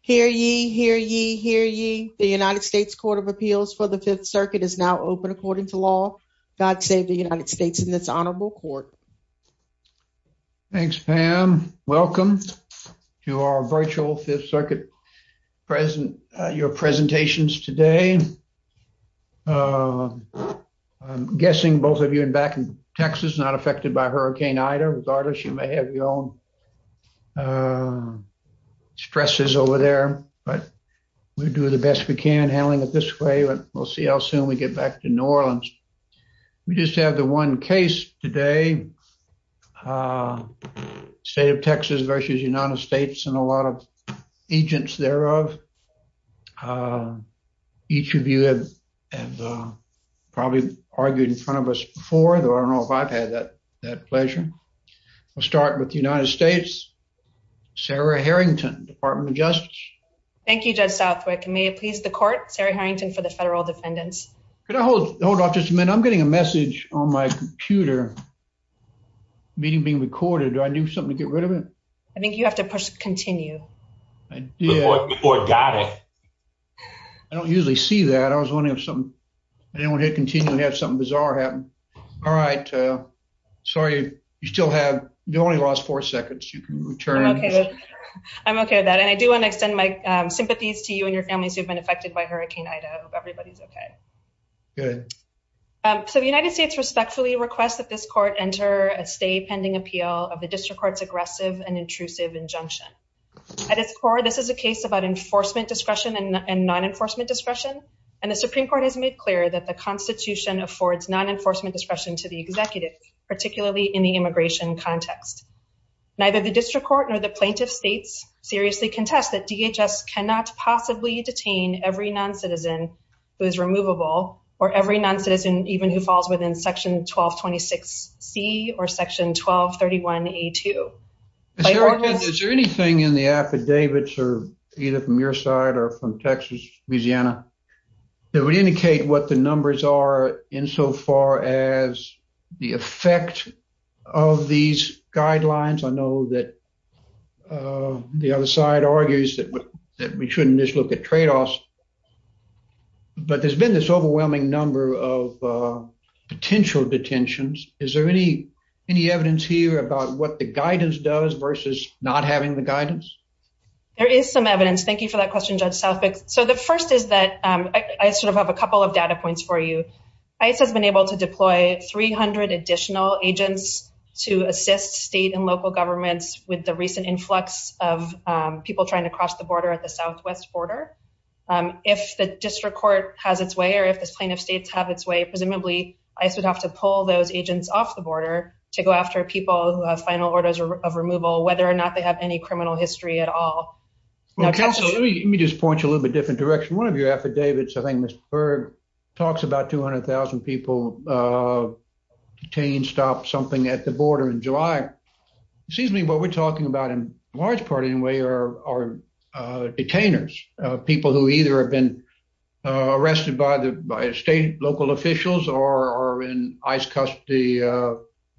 Hear ye, hear ye, hear ye. The United States Court of Appeals for the Fifth Circuit is now open according to law. God save the United States in this honorable court. Thanks, Pam. Welcome to our virtual Fifth Circuit present your presentations today. Uh, I'm guessing both of you in back in Texas, not having your own, uh, stresses over there, but we do the best we can handling it this way. But we'll see how soon we get back to New Orleans. We just have the one case today. Uh, State of Texas versus United States and a lot of agents thereof. Uh, each of you have probably argued in front of us for the I don't know if I've had that that pleasure. We'll start with the United States. Sarah Harrington, Department of Justice. Thank you, Judge Southwick. May it please the court. Sarah Harrington for the federal defendants. Could I hold hold off just a minute? I'm getting a message on my computer meeting being recorded. I knew something to get rid of it. I think you have to push continue. Yeah, I got it. I don't usually see that. I was something bizarre happened. All right. Sorry. You still have the only lost four seconds. You can return. Okay, I'm okay with that. And I do want to extend my sympathies to you and your families who have been affected by Hurricane Ida. Everybody's okay. Good. So the United States respectfully request that this court enter a stay pending appeal of the district court's aggressive and intrusive injunction. At its core, this is a case about enforcement discretion and non enforcement discretion. And the Constitution affords non enforcement discretion to the executive, particularly in the immigration context. Neither the district court nor the plaintiff states seriously contest that DHS cannot possibly detain every non citizen who is removable or every non citizen, even who falls within section 12 26 C or section 12 31 a two. Is there anything in the affidavits or either from your side or from Texas, Louisiana that would indicate what the numbers are in so far as the effect of these guidelines? I know that, uh, the other side argues that we shouldn't just look at trade offs, but there's been this overwhelming number of potential detentions. Is there any any evidence here about what the guidance does versus not having the guidance? There is some evidence. Thank you for that question, Judge Southwick. So the first is that I sort of have a couple of data points for you. It has been able to deploy 300 additional agents to assist state and local governments with the recent influx of people trying to cross the border at the southwest border. If the district court has its way, or if this plaintiff states have its way, presumably I should have to pull those agents off the border to go after people who have final orders of removal, whether or not they have any criminal history at all. Now, let me just point you a little bit different direction. One of your affidavits, I think, Mr. Berg talks about 200,000 people, uh, detained, stopped something at the border in July. It seems to me what we're talking about in large part, anyway, are, are, uh, detainers, people who either have been arrested by the state, local officials or in ICE custody. Uh,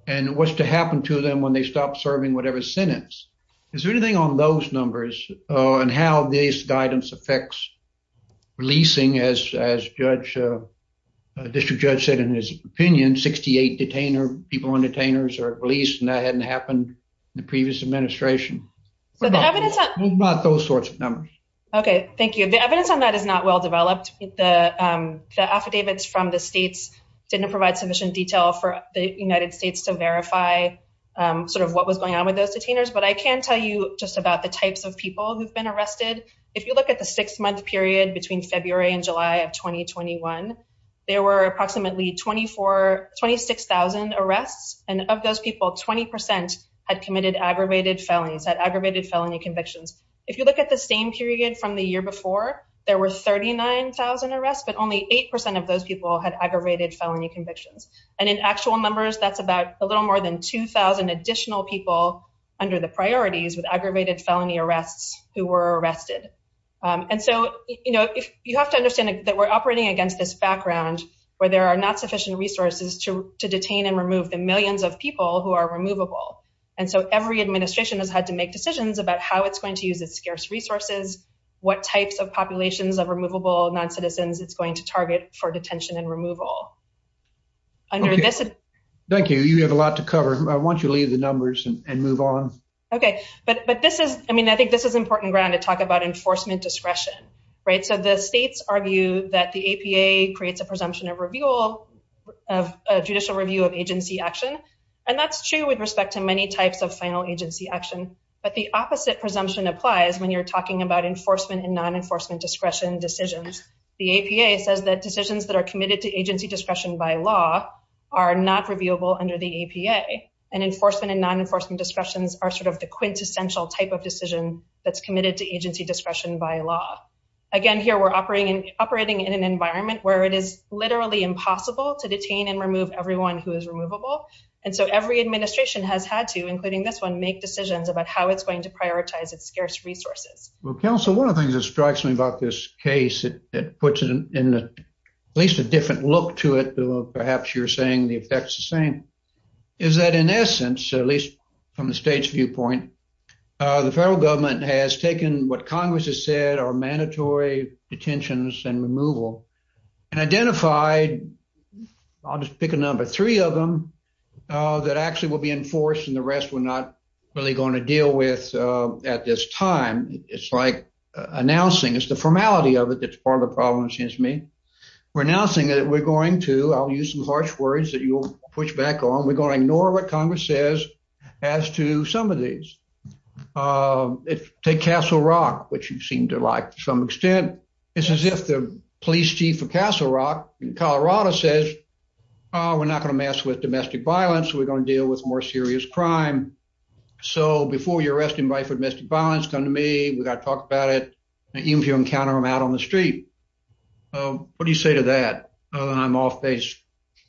and what's to happen to them when they stop serving whatever sentence? Is there anything on those numbers? Uh, and how this guidance affects releasing as, as judge, uh, district judge said in his opinion, 68 detainer people on detainers are released and that hadn't happened in the previous administration. So the evidence, not those sorts of numbers. Okay, thank you. The evidence on that is not well developed. The, um, the affidavits from the states didn't provide sufficient detail for the United States to verify, um, sort of what was going on with those detainers. But I can tell you just about the types of people who've been arrested. If you look at the six month period between February and July of 2021, there were approximately 24, 26,000 arrests. And of those people, 20% had committed aggravated felonies, had aggravated felony convictions. If you look at the same period from the year before, there were 39,000 arrests, but only 8% of those people had aggravated felony convictions. And in actual numbers, that's about a little more than 2,000 additional people under the priorities with aggravated felony arrests who were arrested. Um, and so, you know, if you have to understand that we're operating against this background where there are not sufficient resources to detain and remove the millions of people who are removable. And so every administration has had to make decisions about how it's going to use its scarce resources. What types of populations of removable non citizens it's going to target for detention and removal under this. Thank you. You have a lot to cover. I want you to leave the numbers and move on. Okay, but but this is I mean, I think this is important ground to talk about enforcement discretion, right? So the states argue that the A. P. A. Creates a presumption of review of judicial review of agency action, and that's true with respect to many types of final agency action. But the opposite presumption applies when you're talking about enforcement and non enforcement discretion decisions. The A. P. A. Says that decisions that are committed to agency discretion by law are not reviewable under the A. P. A. And enforcement and non enforcement discussions are sort of the quintessential type of decision that's committed to agency discretion by law. Again, here we're operating operating in an environment where it is literally impossible to detain and remove everyone who is removable. And so every administration has had to, including this one, make decisions about how it's going to prioritize its scarce resources. Well, Council, one of the things that strikes me about this case, it puts it in the least a different look to it. Perhaps you're saying the effects the same is that, in essence, at least from the state's viewpoint, the federal government has taken what Congress has said are mandatory detentions and removal and identified. I'll just pick a number three of them that actually will be enforced, and the rest were not really going to deal with at this time. It's like announcing, it's the formality of it that's part of the problem, it seems to me. We're announcing that we're going to, I'll use some harsh words that you'll push back on, we're going to ignore what Congress says as to some of these. Take Castle Rock, which you seem to like to some extent, it's as if the police chief of Castle Rock in Colorado says, we're not going to mess with domestic violence, we're going to deal with more serious crime. So before you're arresting me for domestic violence, come to me, we've got to talk about it, even if you encounter them out on the street. What do you say to that? I'm off base.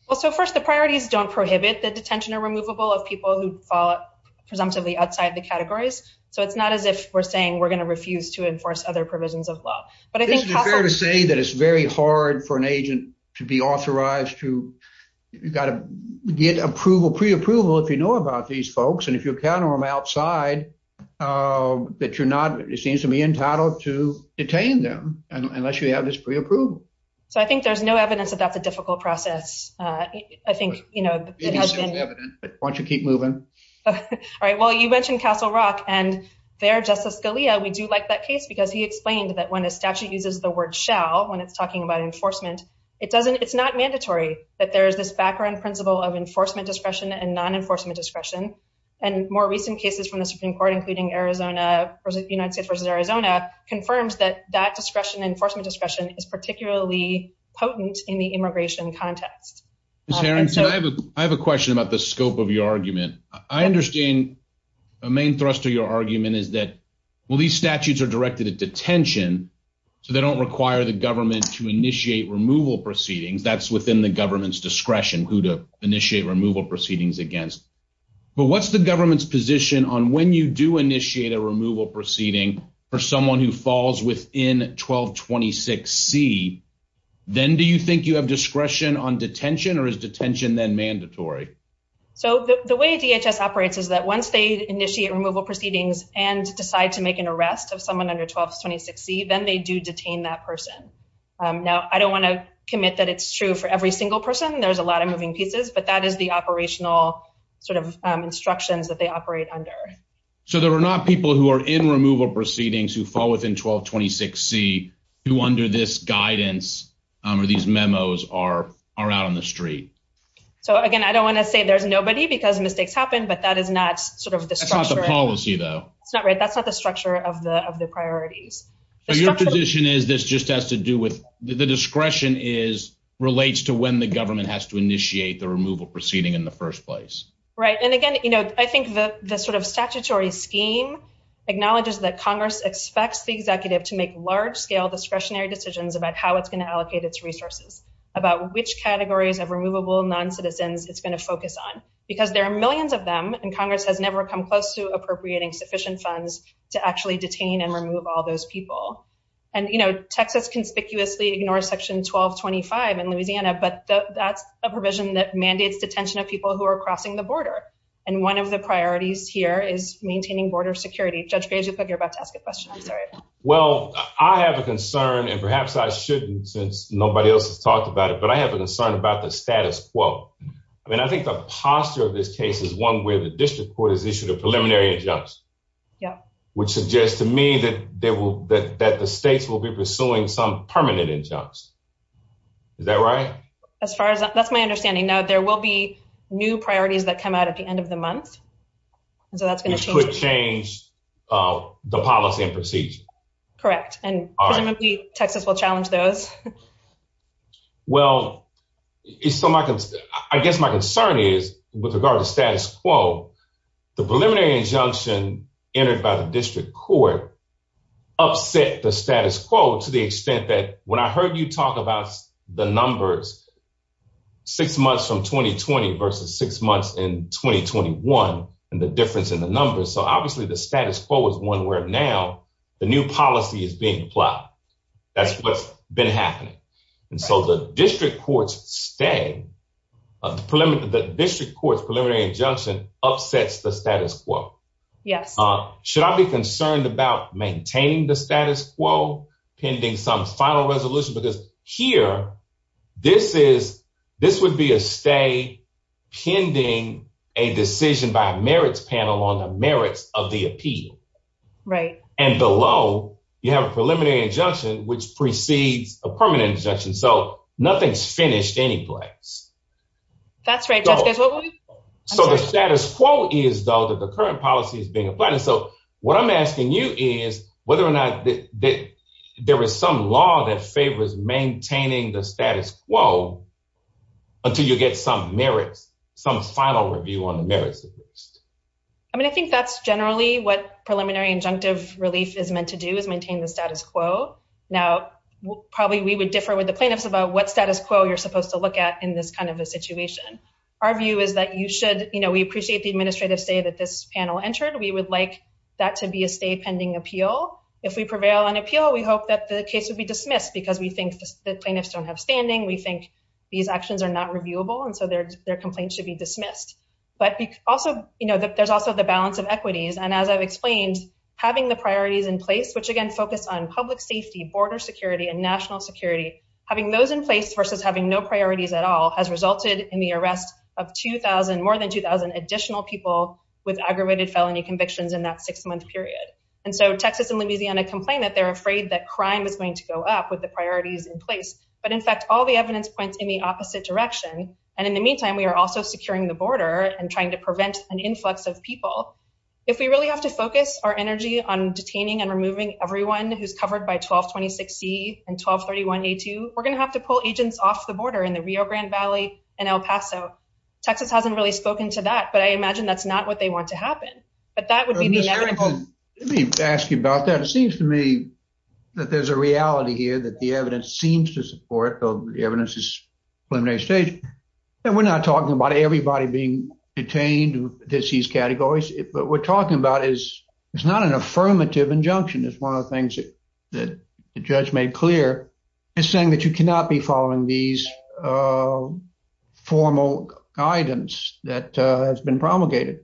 Well, so first, the priorities don't prohibit the detention or removable of people who fall presumptively outside the categories. So it's not as if we're saying we're going to refuse to enforce other provisions of law. But I think it's fair to say that it's very hard for an agent to be authorized to, you've got to get approval, pre approval if you know about these folks, and if you encounter them outside, that you're not, it seems to be entitled to detain them, unless you have this pre approval. So I think there's no evidence that that's a difficult process. I think, you know, once you keep moving. All right, well, you mentioned Castle Rock, and there Justice Scalia, we do like that case, because he explained that when a statute uses the word shall when it's talking about enforcement, it doesn't, it's not mandatory that there's this background principle of enforcement discretion. And more recent cases from the Supreme Court, including Arizona, United States versus Arizona, confirms that that discretion enforcement discretion is particularly potent in the immigration context. And so I have a question about the scope of your argument. I understand the main thrust of your argument is that, well, these statutes are directed at detention, so they don't require the government to initiate removal proceedings that's within the government's discretion who to initiate removal proceedings against. But what's the government's position on when you do initiate a removal proceeding for someone who falls within 1226 C, then do you think you have discretion on detention or is detention then mandatory? So the way DHS operates is that once they initiate removal proceedings and decide to make an arrest of someone under 1226 C, then they do detain that person. Now, I don't want to commit that it's true for every single person. There's a lot of moving pieces, but that is the operational sort of instructions that they operate under. So there are not people who are in removal proceedings who fall within 1226 C who under this guidance or these memos are are out on the street. So again, I don't want to say there's nobody because mistakes happen, but that is not sort of the structure of the policy, though it's not right. That's not the structure of the of the priorities. Your position is this just has to do with the discretion is relates to when the government has to initiate the removal proceeding in the first place, right? And again, you know, I think the sort of statutory scheme acknowledges that Congress expects the executive to make large scale discretionary decisions about how it's going to allocate its resources about which categories of removable non citizens it's going to focus on because there are millions of them and Congress has never come close to appropriating sufficient funds to actually detain and remove all those people. And, you know, Texas conspicuously ignore section 12 25 in Louisiana, but that's a provision that mandates detention of people who are crossing the border. And one of the priorities here is maintaining border security. Judge Page, you put your about to ask a question. I'm sorry. Well, I have a concern, and perhaps I shouldn't since nobody else has talked about it, but I have a concern about the status quo. I mean, I think the posture of this case is one where the district court has issued a preliminary injunctions, which suggests to me that that the states will be pursuing some permanent injunctions. Is that right? As far as that's my understanding. Now, there will be new priorities that come out at the end of the month, so that's gonna change the policy and procedure. Correct. And presumably, Texas will challenge those. Well, it's so I guess my concern is with regard to status quo. The preliminary injunction entered by the district court upset the status quo to the extent that when I heard you talk about the numbers six months from 2020 versus six months in 2021 and the difference in the numbers. So obviously the status quo is one where now the new policy is being applied. That's what's been happening. And so the district courts stay of the preliminary. The upsets the status quo. Yes. Should I be concerned about maintaining the status quo pending some final resolution? Because here this is this would be a stay pending a decision by merits panel on the merits of the appeal. Right. And below you have a preliminary injunction, which precedes a permanent injunction. So nothing's finished any place. That's right. So the status quo is, though, that the current policy is being applied. And so what I'm asking you is whether or not there is some law that favors maintaining the status quo until you get some merits, some final review on the merits of this. I mean, I think that's generally what preliminary injunctive relief is meant to do is it's about what status quo you're supposed to look at in this kind of a situation. Our view is that you should, you know, we appreciate the administrative say that this panel entered. We would like that to be a stay pending appeal. If we prevail on appeal, we hope that the case would be dismissed because we think the plaintiffs don't have standing. We think these actions are not reviewable, and so their complaints should be dismissed. But also, you know, there's also the balance of equities. And as I've explained, having the priorities in place, which again focused on public safety, border security and national security, having those in place versus having no priorities at all has resulted in the arrest of 2000 more than 2000 additional people with aggravated felony convictions in that six month period. And so Texas and Louisiana complain that they're afraid that crime is going to go up with the priorities in place. But in fact, all the evidence points in the opposite direction. And in the meantime, we're also securing the border and trying to prevent an influx of people. If we really have to focus our energy on detaining and removing everyone who's 1226 C and 1231 A2, we're gonna have to pull agents off the border in the Rio Grande Valley and El Paso. Texas hasn't really spoken to that, but I imagine that's not what they want to happen. But that would be the inevitable. Let me ask you about that. It seems to me that there's a reality here that the evidence seems to support the evidence is preliminary stage, and we're not talking about everybody being detained. This is categories, but we're talking about is it's not an affirmative injunction. It's one of the that the judge made clear is saying that you cannot be following these, uh, formal guidance that has been promulgated.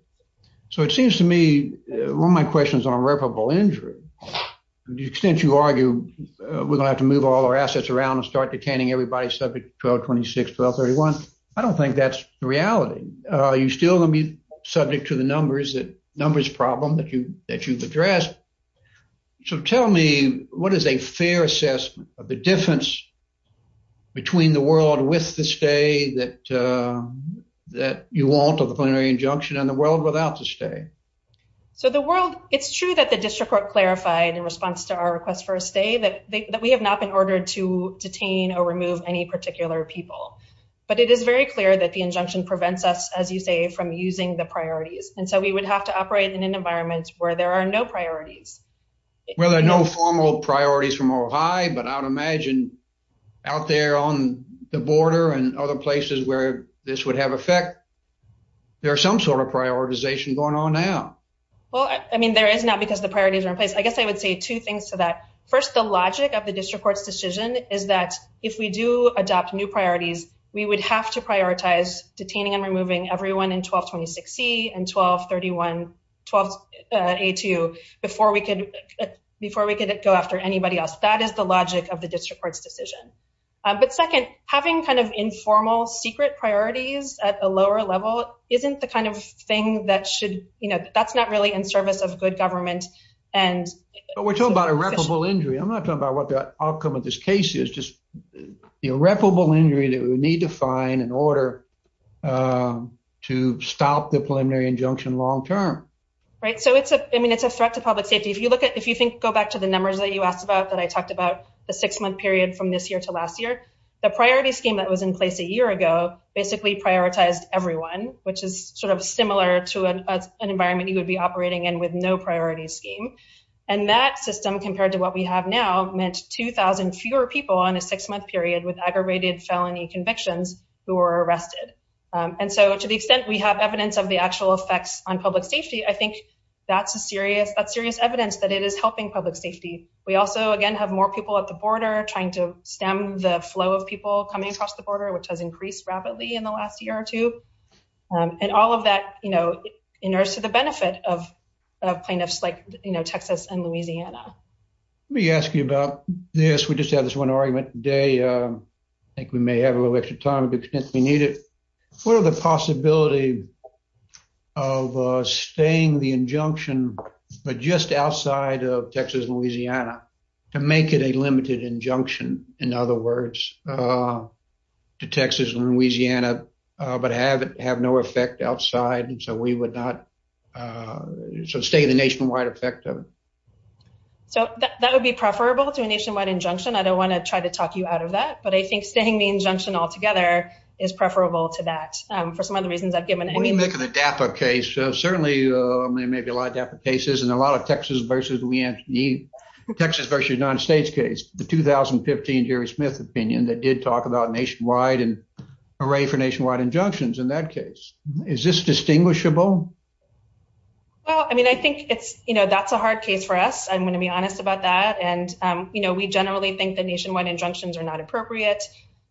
So it seems to me one of my questions on irreparable injury. The extent you argue we're gonna have to move all our assets around and start detaining everybody subject 1226 1231. I don't think that's reality. You're still gonna be subject to the numbers that numbers problem that you that you've addressed. So tell me what is a fair assessment of the difference between the world with this day that, uh, that you want of the plenary injunction and the world without the stay. So the world, it's true that the district court clarified in response to our request for a stay that that we have not been ordered to detain or remove any particular people. But it is very clear that the injunction prevents us, as you say, from using the priorities. And so we would have to operate in an environment where there are no priorities. Well, there are no formal priorities from Ohio, but I would imagine out there on the border and other places where this would have effect. There are some sort of prioritization going on now. Well, I mean, there is not because the priorities are in place. I guess I would say two things to that. First, the logic of the district court's decision is that if we do adopt new prioritize detaining and removing everyone in 12 26 C and 12 31 12 a two before we could before we could go after anybody else. That is the logic of the district court's decision. But second, having kind of informal secret priorities at the lower level isn't the kind of thing that should you know that's not really in service of good government. And we're talking about irreparable injury. I'm not talking about what the outcome of this case is irreparable injury that we need to find in order, uh, to stop the preliminary injunction long term, right? So it's a I mean, it's a threat to public safety. If you look at if you think go back to the numbers that you asked about that I talked about the six month period from this year to last year, the priority scheme that was in place a year ago basically prioritized everyone, which is sort of similar to an environment you would be operating in with no priority scheme. And that system, compared to what we have now meant 2000 fewer people on a six month period with aggravated felony convictions who were arrested. And so to the extent we have evidence of the actual effects on public safety, I think that's a serious that serious evidence that it is helping public safety. We also again have more people at the border trying to stem the flow of people coming across the border, which has increased rapidly in the last year or two. Um, and all of that, you know, in order to the benefit of plaintiffs like, you know, Texas and Louisiana. Let me ask you about this. We just have this one argument today. I think we may have a little extra time because we need it. What are the possibility of staying the injunction, but just outside of Texas, Louisiana to make it a limited injunction? In other words, uh, to Texas and Louisiana, but have it have no effect outside. And so we would not, uh, so stay the nationwide effect of it. That would be preferable to a nationwide injunction. I don't want to try to talk you out of that, but I think staying the injunction altogether is preferable to that for some of the reasons I've given. I mean, making the DAPA case, certainly maybe a lot of cases and a lot of Texas versus we Anthony Texas versus United States case, the 2015 Jerry Smith opinion that did talk about nationwide and array for nationwide injunctions. In that case, is this distinguishable? Well, I mean, I think it's, you know, that's a hard case for us. I'm going to be honest about that. And, um, you know, we generally think the nationwide injunctions are not appropriate.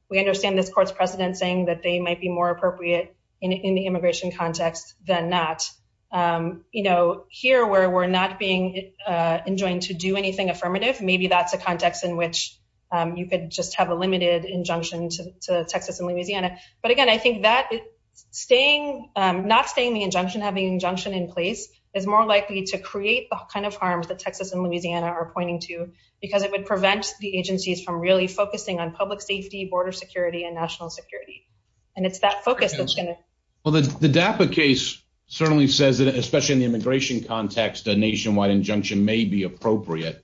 We understand this court's precedent, saying that they might be more appropriate in the immigration context than not. Um, you know, here, where we're not being enjoying to do anything affirmative, maybe that's a context in which you could just have a limited injunction to Texas and Louisiana. But again, I think that staying not staying the injunction, having injunction in place is more likely to create the kind of harms that Texas and Louisiana are pointing to because it would prevent the agencies from really focusing on public safety, border security and national security. And it's that focus that's gonna well, the DAPA case certainly says that, especially in the immigration context, a nationwide injunction may be appropriate.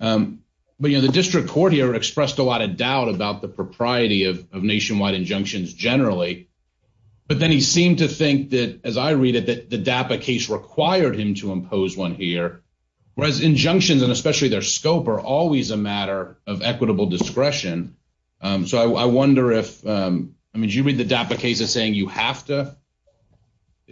Um, but, you know, the district court here expressed a lot of doubt about the propriety of nationwide injunctions generally. But then he seemed to think that, as I read it, that the DAPA case required him to impose one here, whereas injunctions and especially their scope are always a matter of equitable discretion. Um, so I wonder if, um, I mean, you read the DAPA case of saying you have to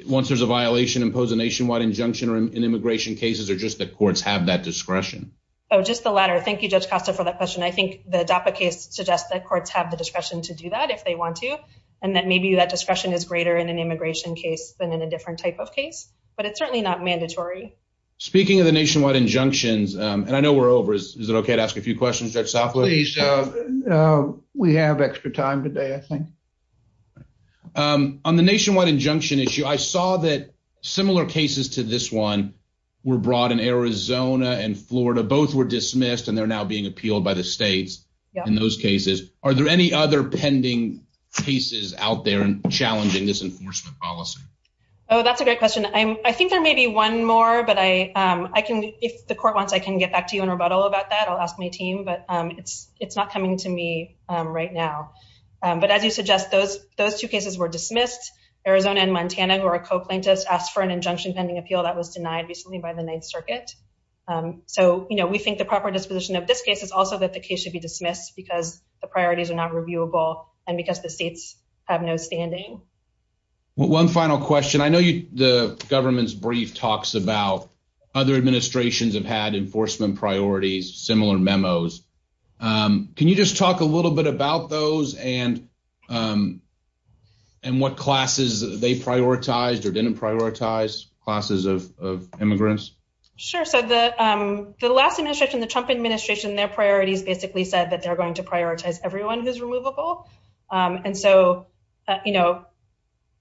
once there's a violation, impose a nationwide injunction or in immigration cases or just the courts have that discretion. Oh, just the latter. Thank you, Judge Costa for that question. I think the DAPA case suggests that courts have the discretion to do that if they want to, and that maybe that discretion is in a different type of case, but it's certainly not mandatory. Speaking of the nationwide injunctions, and I know we're over. Is it okay to ask a few questions? Judge Southwood? Uh, we have extra time today. I think on the nationwide injunction issue, I saw that similar cases to this one were brought in Arizona and Florida. Both were dismissed, and they're now being appealed by the states in those cases. Are there any other pending cases out there challenging this enforcement policy? Oh, that's a great question. I think there may be one more, but I can if the court wants, I can get back to you in rebuttal about that. I'll ask my team, but it's not coming to me right now. But as you suggest, those two cases were dismissed. Arizona and Montana, who are co plaintiffs, asked for an injunction pending appeal that was denied recently by the Ninth Circuit. Um, so, you know, we think the proper disposition of this case is also that the case should be dismissed because the priorities are not reviewable and because the seats have no standing. One final question. I know you the government's brief talks about other administrations have had enforcement priorities, similar memos. Um, can you just talk a little bit about those and, um, and what classes they prioritized or didn't prioritize classes of immigrants? Sure. So the, um, the last administration, the Trump administration, their priorities basically said that they're going to prioritize everyone who's removable. Um, and so, you know,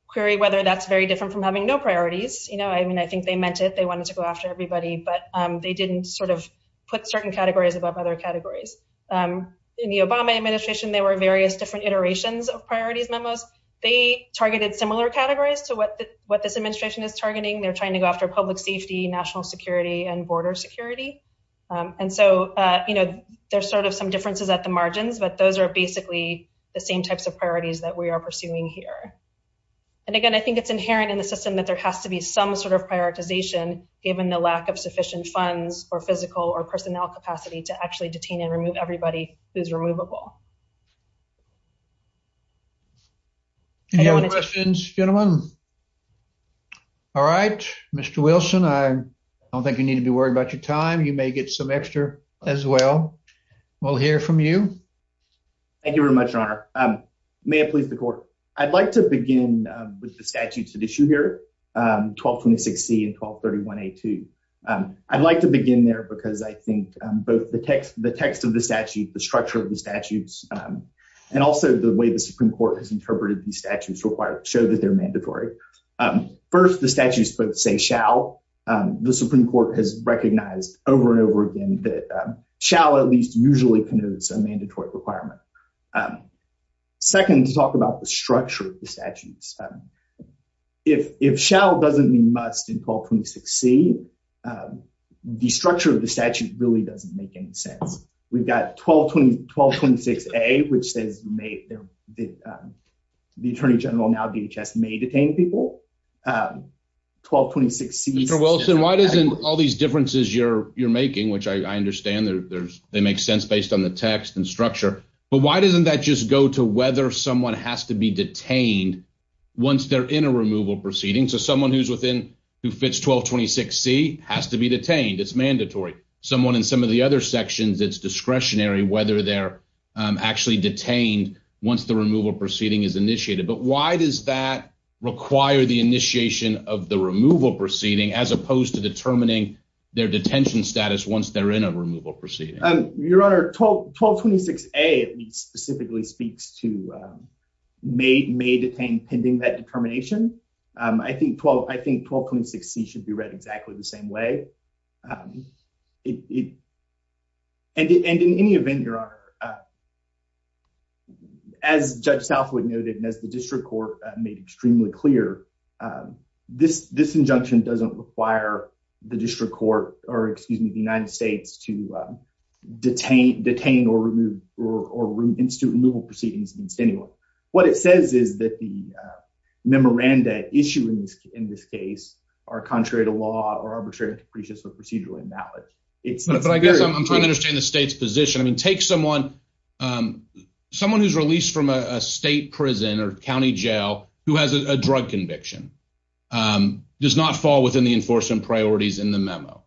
query whether that's very different from having no priorities. You know, I mean, I think they meant it. They wanted to go after everybody, but they didn't sort of put certain categories above other categories. Um, in the Obama administration, there were various different iterations of priorities memos. They targeted similar categories to what what this administration is targeting. They're trying to go after public safety, national security and border security. Um, and so, uh, you know, there's sort of some differences at the margins, but those are basically the same types of priorities that we are pursuing here. And again, I think it's inherent in the system that there has to be some sort of prioritization given the lack of sufficient funds or physical or personnel capacity to actually detain and remove everybody who's removable. Any other questions, gentlemen? All right, Mr Wilson. I don't think you need to be worried about your time. You will hear from you. Thank you very much, Your Honor. Um, may I please the court? I'd like to begin with the statutes that issue here. Um, 12 26 C and 12 31 a two. Um, I'd like to begin there because I think both the text, the text of the statute, the structure of the statutes, um, and also the way the Supreme Court has interpreted these statutes required to show that they're mandatory. Um, first, the statues, but say, shall the Supreme Court has usually canoes a mandatory requirement. Um, second, to talk about the structure of the statutes. Um, if if shall doesn't mean must in 12 26 C. Um, the structure of the statute really doesn't make any sense. We've got 12 20 12 26 a which says made the, um, the attorney general now DHS may detain people. Um, 12 26 C. Mr Wilson, why doesn't all these differences you're you're making, which I understand there's they make sense based on the text and structure. But why doesn't that just go to whether someone has to be detained once they're in a removal proceeding? So someone who's within who fits 12 26 C has to be detained. It's mandatory someone in some of the other sections. It's discretionary whether they're actually detained once the removal proceeding is initiated. But why does that require the initiation of the removal proceeding as opposed to determining their detention status once they're in a removal proceeding? Your Honor, 12 12 26 a specifically speaks to, um, made may detain pending that determination. Um, I think 12 I think 12 26 C should be read exactly the same way. Um, it and and in any event, your honor, uh, as Judge Southwood noted, as the district court made extremely clear, um, this this injunction doesn't require the district court or excuse me, the United States to, uh, detained, detained or removed or or institute removal proceedings against anyone. What it says is that the memoranda issuance in this case are contrary to law or arbitrary and capricious or procedurally invalid. It's like I'm trying to understand the state's position. I mean, take someone, um, someone who's released from a state prison or county jail who has a drug conviction, um, does not fall within the enforcement priorities in the memo.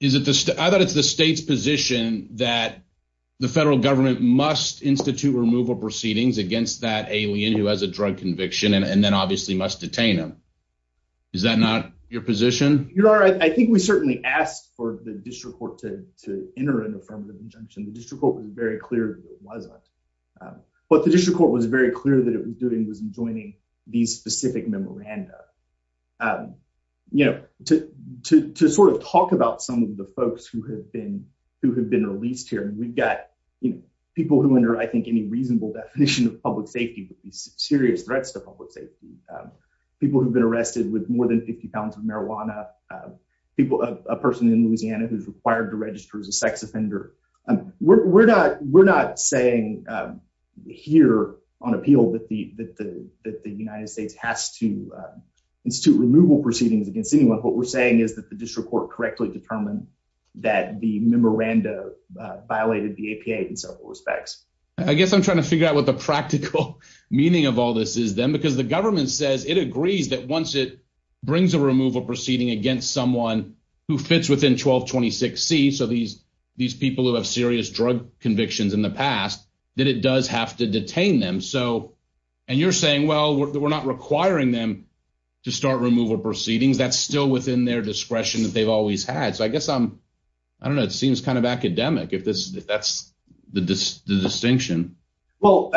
Is it? I thought it's the state's position that the federal government must institute removal proceedings against that alien who has a drug conviction and then obviously must detain him. Is that not your position? You're all right. I think we certainly asked for the district court to enter an affirmative injunction. The district was very clear. It wasn't. Um, but the district court was very clear that it was doing was enjoining these specific memoranda. Um, you know, to sort of talk about some of the folks who have been who have been released here. And we've got, you know, people who under, I think, any reasonable definition of public safety with these serious threats to public safety. Um, people who have been arrested with more than £50 of marijuana, people, a person in sex offender. We're not. We're not saying here on appeal that the United States has to institute removal proceedings against anyone. What we're saying is that the district court correctly determined that the memoranda violated the A. P. A. In several respects, I guess I'm trying to figure out what the practical meaning of all this is then, because the government says it agrees that once it brings a removal proceeding against someone who these people who have serious drug convictions in the past that it does have to detain them. So and you're saying, well, we're not requiring them to start removal proceedings. That's still within their discretion that they've always had. So I guess I'm I don't know. It seems kind of academic if this that's the distinction. Well,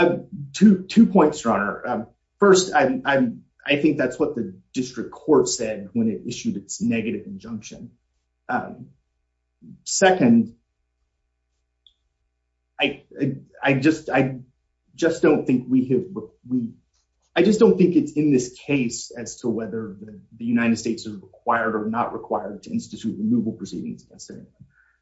to two points runner. First, I think that's what the district court said when it issued its negative injunction. Um, second, I I just I just don't think we have. I just don't think it's in this case as to whether the United States is required or not required to institute removal proceedings.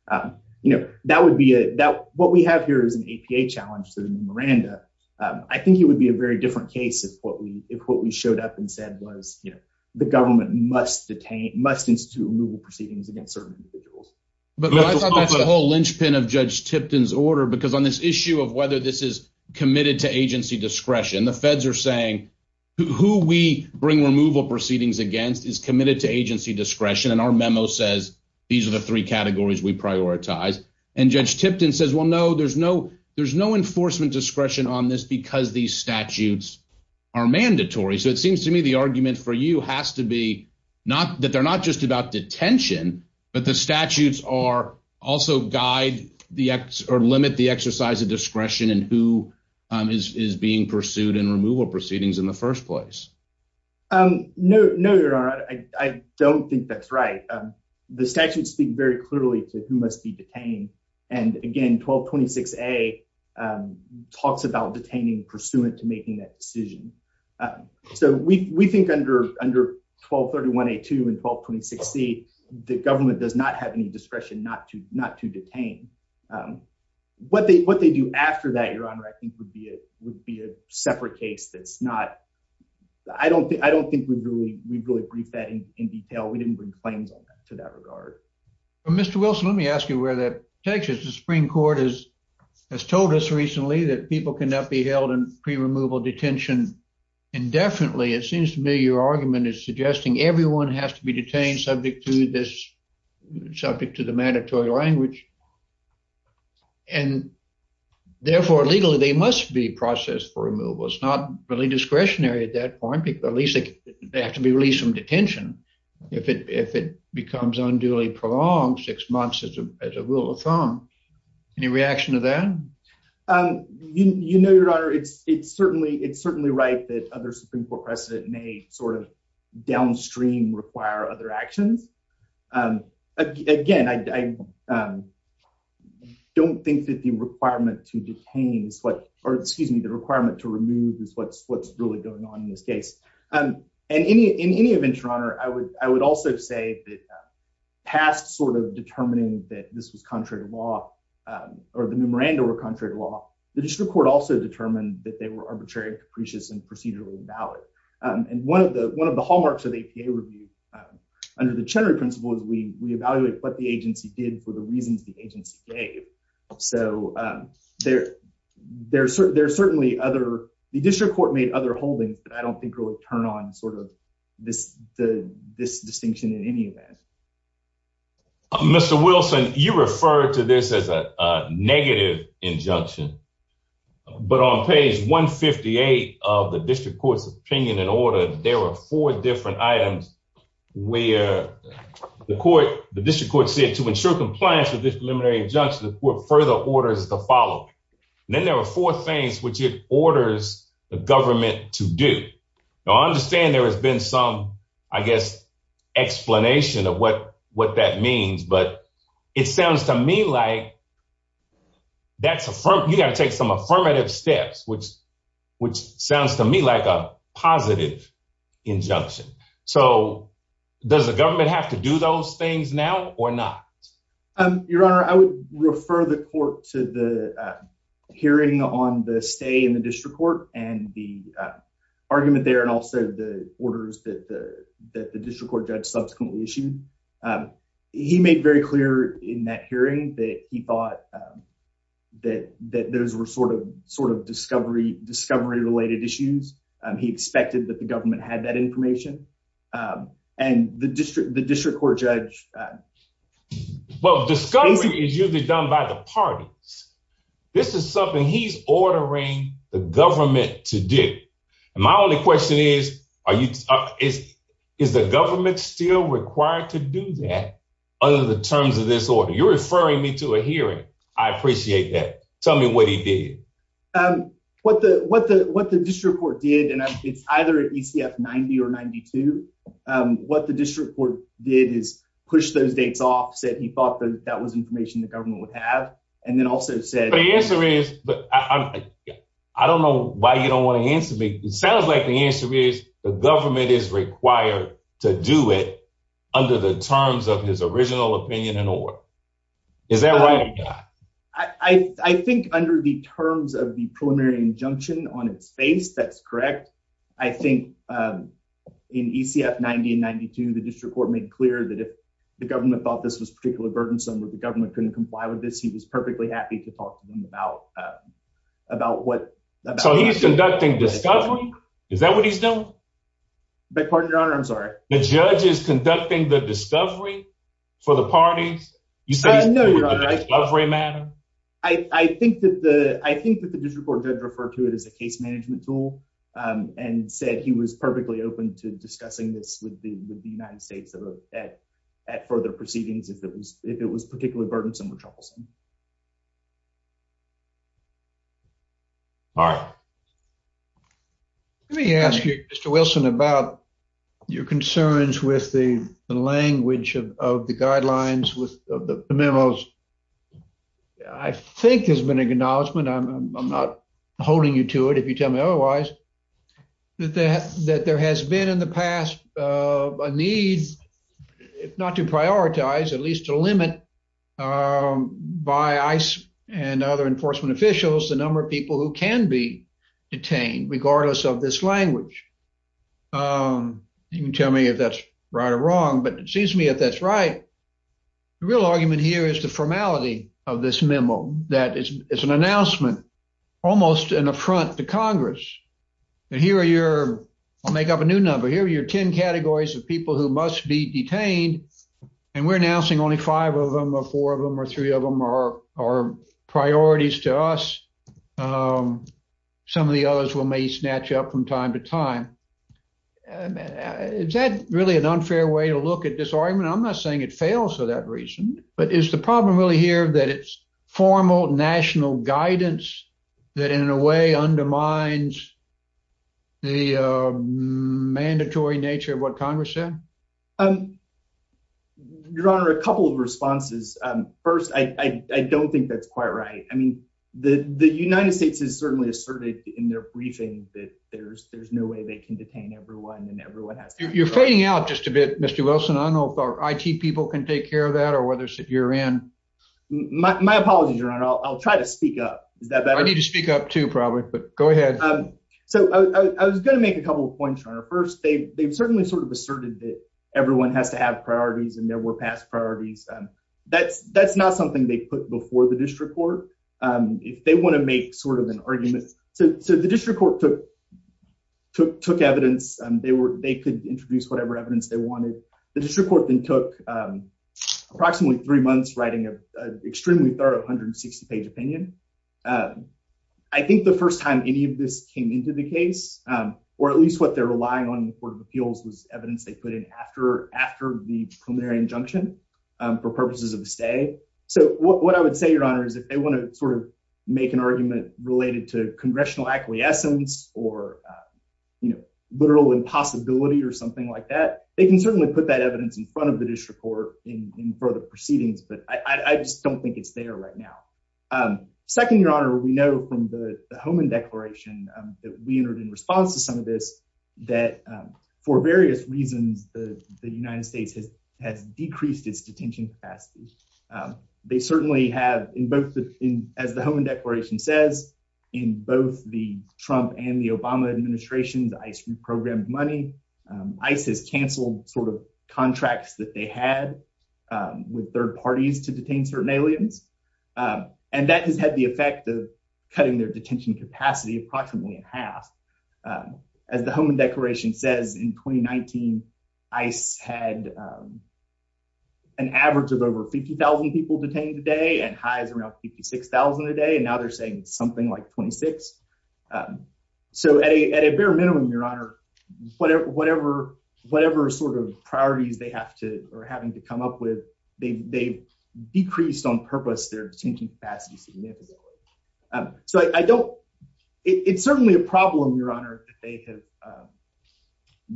Um, you know, that would be that what we have here is an A. P. A. Challenge to the Miranda. I think it would be a very different case if what we if what we showed up and said was, you know, the government must detain must institute removal proceedings against certain individuals. But I thought that's the whole linchpin of Judge Tipton's order. Because on this issue of whether this is committed to agency discretion, the feds air saying who we bring removal proceedings against is committed to agency discretion. And our memo says these are the three categories we prioritize. And Judge Tipton says, Well, no, there's no there's no enforcement discretion on this because these statutes are mandatory. So it seems to me the argument for you has to be not that they're not just about detention, but the statutes are also guide the X or limit the exercise of discretion and who is being pursued and removal proceedings in the first place. Um, no, no, Your Honor, I don't think that's right. Um, the statute speak very clearly to who must be detained. And again, 12 26 a, um, talks about detaining pursuant to making that decision. Um, so we we think under under 12 31 a two and 12 26 C, the government does not have any discretion not to not to detain. Um, what they what they do after that, Your Honor, I think would be it would be a separate case. That's not I don't I don't think we really we really briefed that in detail. We didn't bring claims to that regard. Mr Wilson, let me ask you where that Texas Supreme Court is has told us recently that people cannot be held in pre removal detention indefinitely. It seems to me your argument is suggesting everyone has to be detained subject to this subject to the mandatory language and therefore legally they must be processed for removal. It's not really discretionary at that point. People at least they have to be released from detention if it if it becomes unduly prolonged six months as a rule of thumb. Any reaction to that? Um, you know, Your Honor, it's it's certainly it's certainly right that other Supreme Court precedent may sort of downstream require other actions. Um, again, I, um, don't think that the requirement to detains what or excuse me, the requirement to remove is what's what's really going on in this case. Um, and in any in any event, Your Honor, I would I would also say that past sort of determining that this was contrary to or the memorandum were contrary to law. The district court also determined that they were arbitrary, capricious and procedurally valid. And one of the one of the hallmarks of the review under the Chenery principle is we evaluate what the agency did for the reasons the agency gave. So, um, there there's certainly there's certainly other. The district court made other holdings that I don't think really turn on sort of this this distinction in any event. Mr Wilson, you referred to this as a negative injunction. But on page 1 58 of the district court's opinion in order, there were four different items where the court, the district court said to ensure compliance with this preliminary injunction, the court further orders the following. Then there were four things which it orders the government to do. I understand there has been some, I guess, explanation of what what that means. But it sounds to me like that's a firm. You gotta take some affirmative steps, which which sounds to me like a positive injunction. So does the government have to do those things now or not? Your Honor, I would refer the court to the hearing on the stay in the district court and the argument there and also the orders that the that the district court judge subsequently issued. Um, he made very clear in that hearing that he thought, um, that that those were sort of sort of discovery, discovery related issues. He expected that the government had that information. Um, and the district, the district court judge, uh, well, the government to do. My only question is, are you? Is the government still required to do that under the terms of this order? You're referring me to a hearing. I appreciate that. Tell me what he did. Um, what the what the what the district court did, and it's either E. C. F. 90 or 92. Um, what the district court did is push those dates off, said he thought that that was information the government would have. And then also said the answer is, but I don't know why you don't want to answer me. It sounds like the answer is the government is required to do it under the terms of his original opinion and or is that right? I think under the terms of the preliminary injunction on its face, that's correct. I think, um, in E. C. F. 90 and 92, the district court made clear that if the government thought this was particularly burdensome with the government couldn't comply with this, he was perfectly happy to talk to him about about what? So he's conducting discovery. Is that what he's doing? But part of your honor, I'm sorry. The judge is conducting the discovery for the parties. You said no, you're right. Every matter. I think that the I think that the district court did refer to it as a case management tool, um, and said he was perfectly open to discussing this with the United States at at further proceedings. If it was particularly burdensome with troublesome. All right. Let me ask you, Mr Wilson, about your concerns with the language of the guidelines with the memos. I think there's been acknowledgement. I'm not holding you to it. If you tell me otherwise that that there has been in the past, uh, needs if not to limit, um, by ice and other enforcement officials, the number of people who can be detained regardless of this language. Um, you can tell me if that's right or wrong, but it seems to me if that's right, the real argument here is the formality of this memo. That is, it's an announcement, almost an affront to Congress. And here are your make up a new number. Here are your 10 categories of people who must be detained, and we're announcing only five of them or four of them or three of them are our priorities to us. Um, some of the others will may snatch up from time to time. Is that really an unfair way to look at this argument? I'm not saying it fails for that reason. But is the problem really here that it's formal national guidance that in a way undermines the mandatory nature of what Congress said? Um, Your Honor, a couple of responses. First, I don't think that's quite right. I mean, the United States is certainly asserted in their briefing that there's there's no way they can detain everyone and everyone has. You're fading out just a bit, Mr Wilson. I don't know if I T people can take care of that or whether you're in my apologies. Your Honor, I'll try to speak up. I need to speak up, too, probably. But go ahead. So I was gonna make a couple of points on her. First, they've certainly sort of asserted that everyone has to have priorities, and there were past priorities. That's that's not something they put before the district court if they want to make sort of an argument. So the district court took took took evidence. They were. They could introduce whatever evidence they wanted. The district court then took approximately three months, writing a extremely thorough 160 page opinion. Um, I think the first time any of this came into the case, um, or at least what they're relying on the Court of Appeals was evidence they put in after after the preliminary injunction for purposes of the stay. So what I would say, Your Honor, is if they want to sort of make an argument related to congressional acquiescence or, you know, literal impossibility or something like that, they can certainly put that evidence in front of the district court in further proceedings. But I just don't think it's there right now. Um, second, Your Honor, we know from the home and declaration that we heard in response to some of this that for various reasons, the United States has has decreased its detention capacity. Um, they certainly have in both the as the home and declaration says in both the Trump and the Obama administration's ice reprogrammed money. ISIS canceled sort of contracts that they had with third parties to detain certain aliens. Um, and that has had the Um, as the home and declaration says in 2019, I said, um, an average of over 50,000 people detained today and highs around 56,000 a day. And now they're saying something like 26. Um, so at a at a bare minimum, Your Honor, whatever, whatever, whatever sort of priorities they have to or having to come up with, they decreased on purpose. They're changing fast. So I don't It's certainly a problem, Your Honor, that they have, um,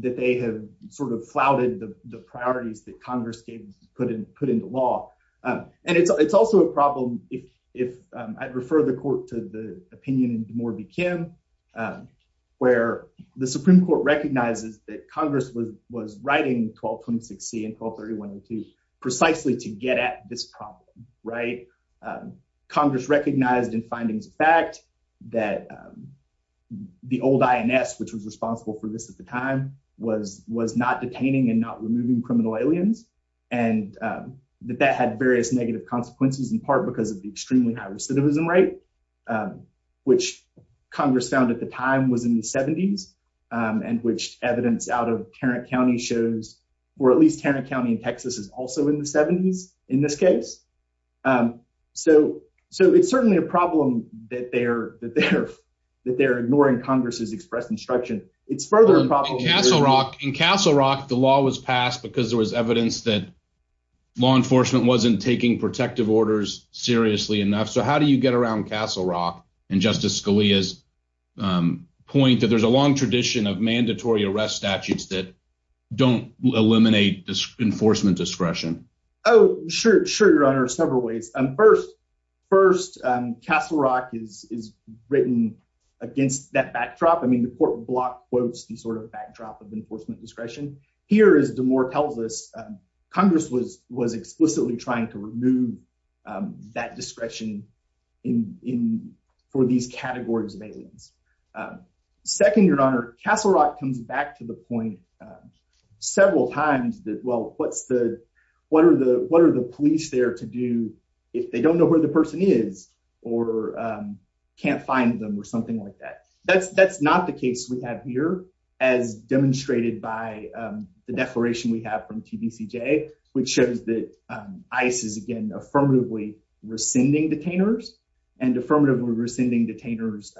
that they have sort of flouted the priorities that Congress gave put in put into law. And it's also a problem if if I'd refer the court to the opinion in more begin, um, where the Supreme Court recognizes that Congress was was writing 12 26 C and 12 31 and two precisely to get at this problem, right? Um, Congress recognized in the old I. N. S. Which was responsible for this at the time was was not detaining and not removing criminal aliens and that that had various negative consequences in part because of the extremely high recidivism rate, um, which Congress found at the time was in the seventies, um, and which evidence out of Tarrant County shows or at least Tarrant County in Texas is also in the seventies in this case. Um, so so it's certainly a problem that they're that they're that they're ignoring Congress's expressed instruction. It's further Castle Rock in Castle Rock. The law was passed because there was evidence that law enforcement wasn't taking protective orders seriously enough. So how do you get around Castle Rock and Justice Scalia's, um, point that there's a long tradition of mandatory arrest statutes that don't eliminate this enforcement discretion? Oh, sure, sure, Your Honor. Several ways. And first, first, Castle Rock is is written against that backdrop. I mean, the court block quotes the sort of backdrop of enforcement discretion. Here is the more tells us Congress was was explicitly trying to remove, um, that discretion in in for these categories of aliens. Um, second, Your Honor, Castle Rock comes back to the point, several times that well, what's the what are the what are the police there to do if they don't know where the person is or, um, can't find them or something like that? That's that's not the case we have here, as demonstrated by the declaration we have from TBCJ, which shows that ice is again affirmatively rescinding detainers and affirmatively rescinding detainers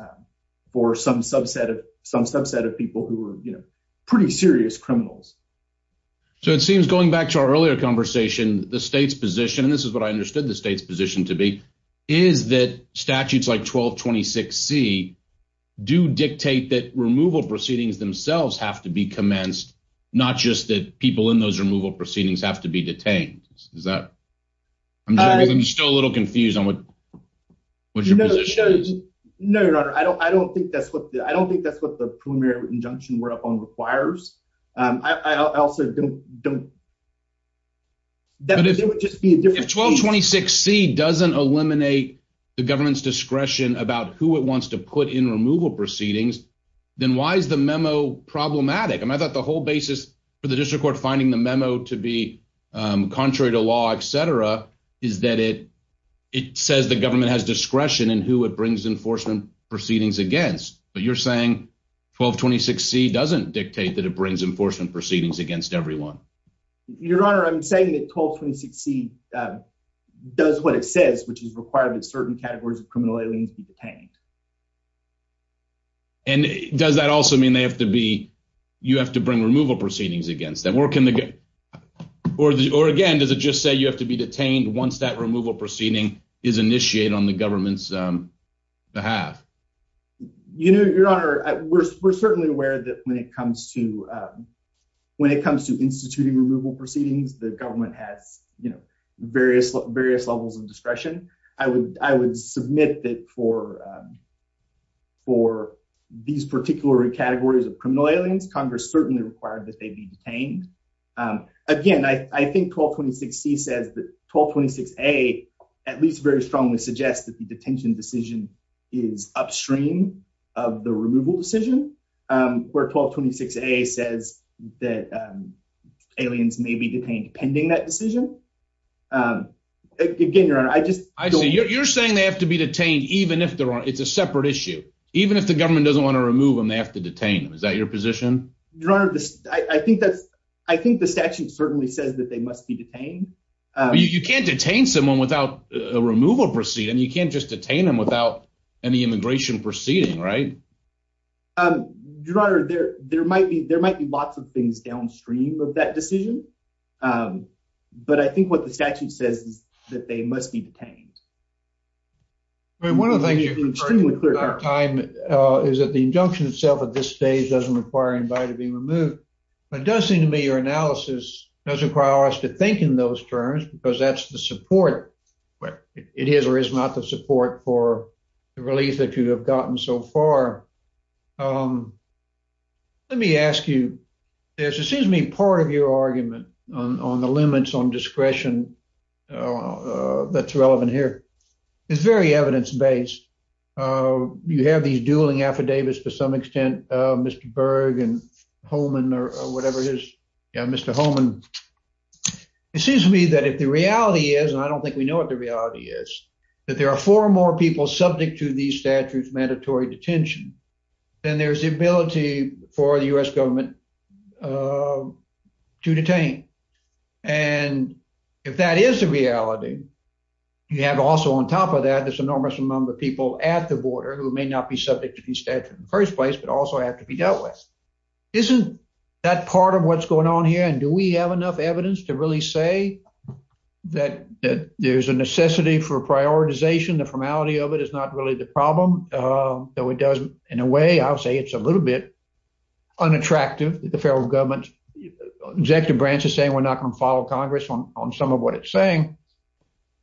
for some subset of some subset of people who were, you know, pretty serious criminals. So it seems going back to our earlier conversation, the state's position, and this is what I understood the state's position to be, is that statutes like 12 26 C do dictate that removal proceedings themselves have to be commenced, not just that people in those removal proceedings have to be detained. Is that I'm still a little confused on what what you know? No, Your Honor, I don't I don't think that's what I don't think that's what the preliminary injunction we're up on requires. I also don't don't that it would just be 12 26 C doesn't eliminate the government's discretion about who it wants to put in removal proceedings. Then why is the memo problematic? I thought the whole basis for the district court finding the memo to be contrary to law, etcetera, is that it it says the government has discretion and who it brings enforcement proceedings against. But you're saying 12 26 C doesn't dictate that it brings enforcement proceedings against everyone. Your Honor, I'm saying that 12 26 C, uh, does what it says, which is required that certain categories of criminal aliens be detained. And does that also mean they have to be? You have to bring removal proceedings against that work in the or or again, does it just say you have to be detained once that removal proceeding is initiated on the government's behalf? You know, Your Honor, we're certainly aware that when it comes to when it comes to instituting removal proceedings, the government has, you know, various various levels of discretion. I would I would submit that for for these particular categories of criminal aliens, Congress certainly required that they be detained again. I think 12 26 C says that 12 26 A at least very strongly suggests that the detention decision is upstream of the removal decision. Um, where 12 26 A says that, um, aliens may be detained pending that decision. Um, again, Your Honor, I just I see you're saying they have to be detained even if there are. It's a separate issue. Even if the government doesn't want to remove him, they have to detain him. Is that your position? Your Honor, I think that's I think the statute certainly says that they must be detained. You can't detain someone without a removal proceeding. You can't just detain them without any immigration proceeding, right? Um, Your Honor, there there might be. There might be lots of things downstream of that decision. Um, but I think what the statute says that they must be detained. I mean, one of the things you're extremely clear time is that the injunction itself at this stage doesn't require invited being removed. It does seem to me your analysis doesn't require us to think in those terms because that's the support. But it is or is not the support for the release that you have gotten so far. Um, let me ask you, there seems to be part of your argument on the limits on discretion. Uh, that's relevant here. It's very evidence based. Uh, you have these dueling affidavits to some extent, Mr Berg and Holman or whatever it is, Mr Holman. It seems to me that if the reality is, and I don't think we know what the reality is, that there are four or more people subject to these statutes, mandatory detention, then there's the ability for the U. S. Government, uh, to detain. And if that is the reality, you have also on top of that this enormous number of people at the border who may not be subject to the statute in the first place, but also have to be dealt with. Isn't that part of what's going on here? And do we have enough evidence to really say that there's a necessity for prioritization? The formality of it is not really the problem, though it does. In a way, I'll say it's a little bit unattractive. The federal government executive branch is saying we're not gonna follow Congress on some of what it's saying.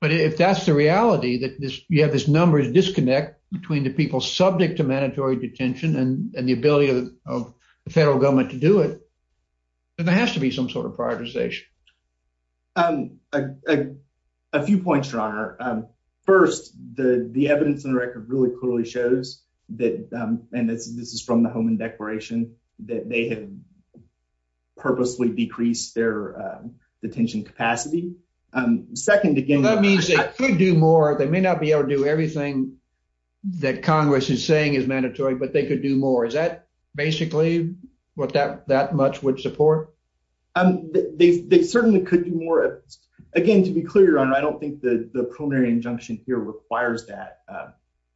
But if that's the reality that you have this numbers disconnect between the people subject to mandatory detention and the ability of the federal government to do it, there has to be some sort of prioritization. Um, a few points, Your Honor. First, the evidence in the record really clearly shows that, and this is from the Holman Declaration, that they have purposely decreased their detention capacity. Second, again, that means they could do more. They may not be able to do everything that Congress is saying is mandatory, but they could do more. Is that basically what that much would support? Um, they certainly could do more again. To be clear on. I don't think the primary injunction here requires that.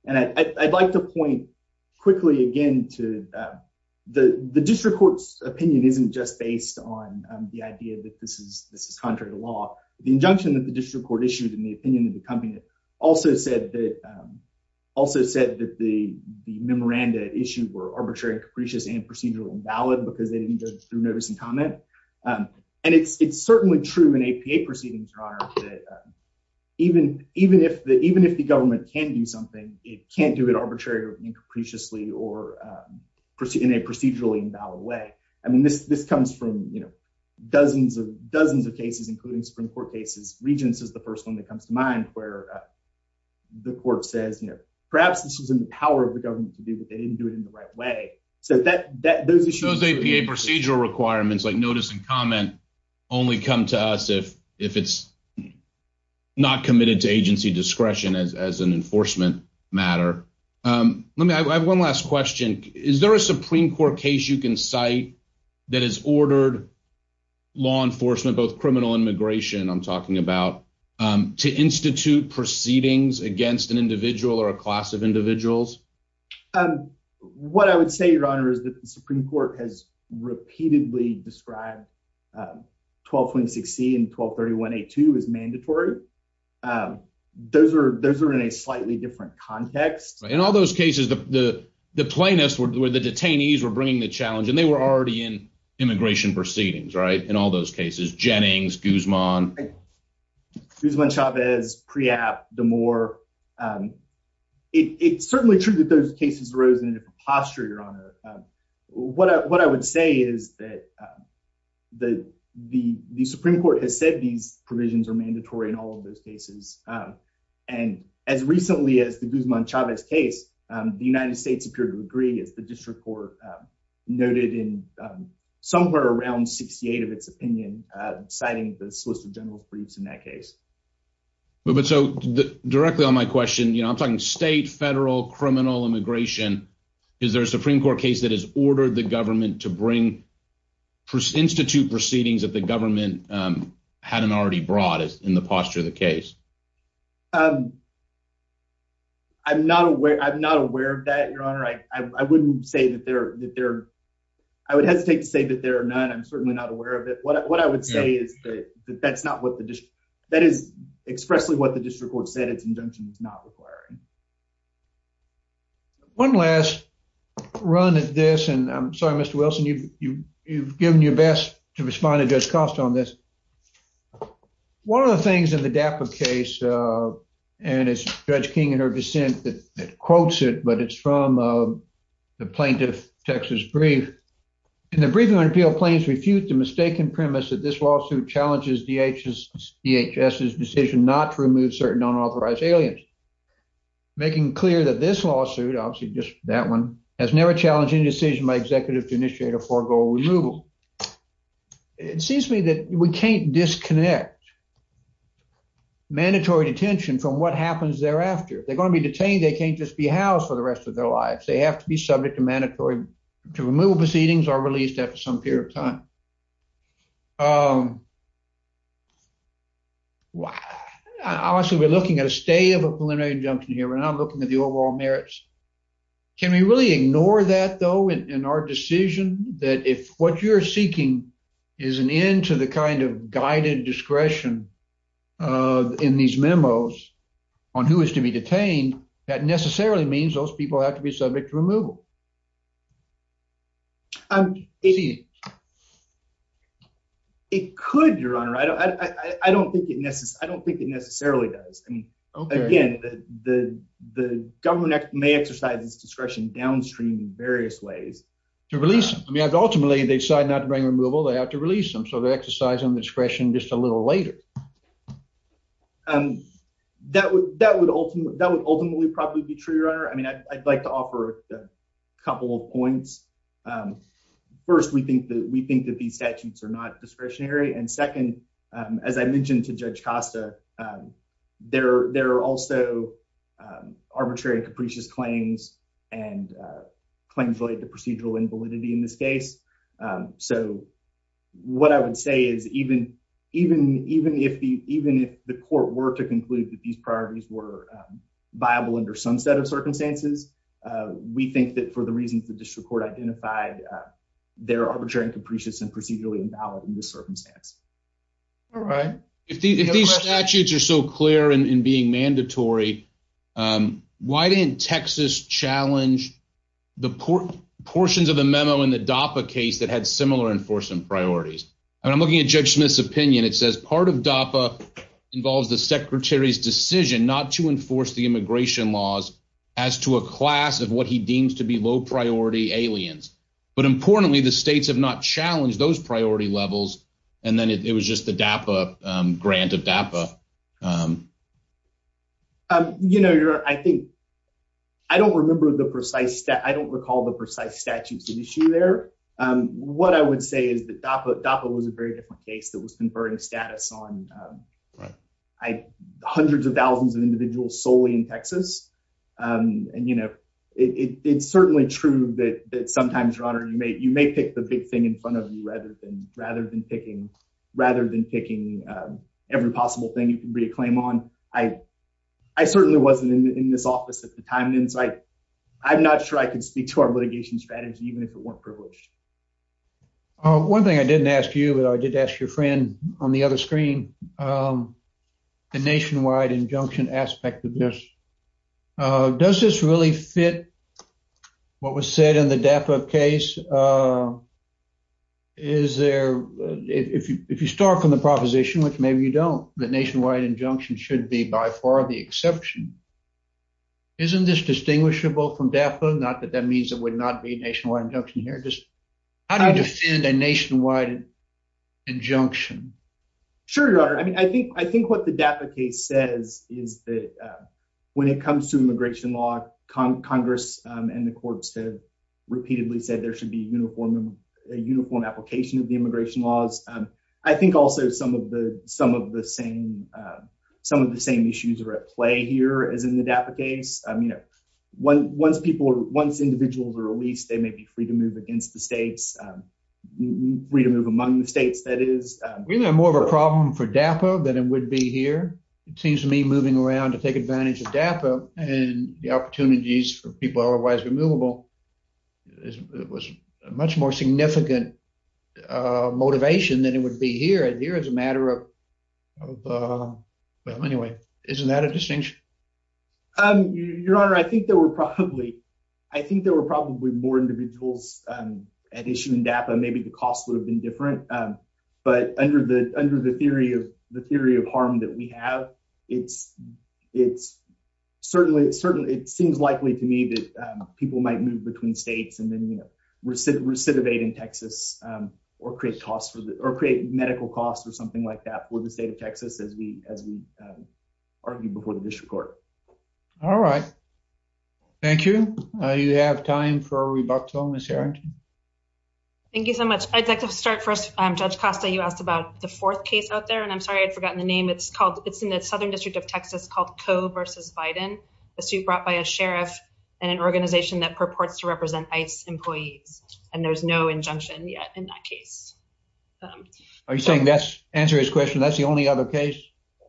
And I'd like to point quickly again to, uh, the district court's opinion isn't just based on the idea that this is this is contrary to law. The injunction that the district court issued in the opinion of the company also said that, um, also said that the memoranda issued were arbitrary, capricious and procedural and valid because they didn't go through notice and comment. Um, and it's certainly true in a P. A. Proceedings are even even if even if the government can do something, it can't do it. Arbitrary and capriciously or in a procedurally invalid way. I mean, this this comes from, you know, dozens of dozens of cases, including Supreme Court cases. Regents is the first one that comes to mind where, uh, the court says, you know, perhaps this is in the power of the government to do what they didn't do it in the right way. So that that those issues A. P. A. Procedural requirements like notice and comment only come to us if if it's not committed to agency discretion as as an enforcement matter. Um, let me I have one last question. Is there a Supreme Court case you can cite that has ordered law enforcement, both criminal and immigration? I'm talking about, um, to institute proceedings against an individual or a class of individuals. Um, what I would say, Your Honor, is that the Supreme Court has repeatedly described, uh, 12.6 C and 12 31 82 is mandatory. Um, those air those air in a slightly different context. In all those cases, the plaintiffs were the detainees were bringing the challenge, and they were already in immigration proceedings. Right. In all those cases, Jennings Guzman, who's one shop is pre app. The more, um, it's certainly true that those cases rose in a posture, Your Honor. What? What I would say is that, uh, the the Supreme Court has said these provisions are mandatory in all of those cases. And as recently as the Guzman Chavez case, the United States appeared to agree is the district court noted in somewhere around 68 of its opinion, citing the solicitor general's briefs in that case. But so directly on my question, you know, I'm talking state federal criminal immigration. Is there a Supreme Court case that has ordered the government to bring Institute proceedings that the government, um, hadn't already brought in the posture of the case? Um, I'm not aware. I'm not aware of that, Your Honor. I wouldn't say that there that there I would hesitate to say that there are none. I'm certainly not aware of it. What I would say is that that's not what the dish that is expressly what the district court said. Its injunction is not requiring one last run at this, and I'm sorry, Mr Wilson, you've given your best to one of the things in the DAPA case, uh, and it's Judge King and her dissent that quotes it, but it's from, uh, the plaintiff Texas brief in the briefing on appeal. Plains refute the mistaken premise that this lawsuit challenges DHS DHS decision not to remove certain unauthorized aliens, making clear that this lawsuit obviously just that one has never challenged any decision by executive to initiate a forego removal. It seems to me that we can't disconnect mandatory detention from what happens thereafter. They're gonna be detained. They can't just be housed for the rest of their lives. They have to be subject to mandatory removal. Proceedings are released after some period of time. Um, well, obviously, we're looking at a stay of a preliminary injunction here, and I'm looking at the overall merits. Can we really ignore that, though, in what you're seeking is an end to the kind of guided discretion, uh, in these memos on who is to be detained? That necessarily means those people have to be subject to removal. I'm it could your honor. I don't I don't think it necessary. I don't think it necessarily does. I mean, again, the government may exercise its discretion downstream in various ways to release. I mean, ultimately, they decided not to bring removal. They have to release them. So they exercise on discretion just a little later. Um, that would that would ultimately that would ultimately probably be true, your honor. I mean, I'd like to offer a couple of points. Um, first, we think that we think that these statutes are not discretionary. And second, as I mentioned to Judge Costa, um, there there are also, um, arbitrary capricious claims and, uh, claims related to procedural invalidity in this case. So what I would say is even even even if the even if the court were to conclude that these priorities were viable under some set of circumstances, we think that for the reasons the district court identified their arbitrary and capricious and procedurally invalid in this circumstance. All right, if these statutes are so clear and being mandatory, um, why didn't Texas challenge the portions of the memo in the DAPA case that had similar enforcement priorities? I'm looking at Judge Smith's opinion. It says part of DAPA involves the secretary's decision not to enforce the immigration laws as to a class of what he deems to be low priority aliens. But importantly, the states have not challenged those priority levels. And then it was just the DAPA grant of DAPA. Um, you know, you're I think I don't remember the precise that I don't recall the precise statutes of issue there. Um, what I would say is that DAPA DAPA was a very different case that was conferring status on, um, I hundreds of thousands of individuals solely in Texas. Um, and, you know, it's certainly true that sometimes, your honor, you may you may pick the big in front of you rather than rather than picking rather than picking every possible thing you can reclaim on. I I certainly wasn't in this office at the time. And it's like I'm not sure I could speak to our litigation strategy even if it weren't privileged. One thing I didn't ask you, but I did ask your friend on the other screen. Um, the nationwide injunction aspect of this. Uh, does this really fit what was said in the DAPA case? Uh, is there? If you start from the proposition, which maybe you don't, the nationwide injunction should be by far the exception. Isn't this distinguishable from DAPA? Not that that means it would not be a nationwide injunction here. Just how do you defend a nationwide injunction? Sure, your honor. I mean, I think I think what the DAPA case says is that when it comes to immigration law, Congress and the courts have repeatedly said there should be uniform uniform application of the immigration laws. I think also some of the some of the same some of the same issues are at play here is in the DAPA case. I mean, once people once individuals are released, they may be free to move against the states. Um, freedom of among the states. That is really more of a problem for DAPA than it would be here. It seems to be moving around to take advantage of DAPA and the opportunities for people otherwise removable. It was much more significant, uh, motivation than it would be here. And here is a matter of, uh, well, anyway, isn't that a distinction? Um, your honor, I think there were probably I think there were probably more individuals, um, at issue in DAPA. Maybe the cost would have been different. But under the under the theory of the theory of harm that we have, it's it's certainly certainly it seems likely to me that people might move between states and then, you know, recidivate recidivate in Texas or create costs or create medical costs or something like that for the state of Texas. As we as we, um, argue before the district court. All right. Thank you. You have time for rebuttal, Miss Harrington. Thank you so much. I'd like to start first. Judge Costa, you asked about the fourth case out there, and I'm sorry I'd forgotten the name. It's called. It's in the southern district of Texas called Co versus Biden, a suit brought by a sheriff and an organization that purports to represent ice employees. And there's no injunction yet in that case. Um, are you saying that's answer his question? That's the only other case?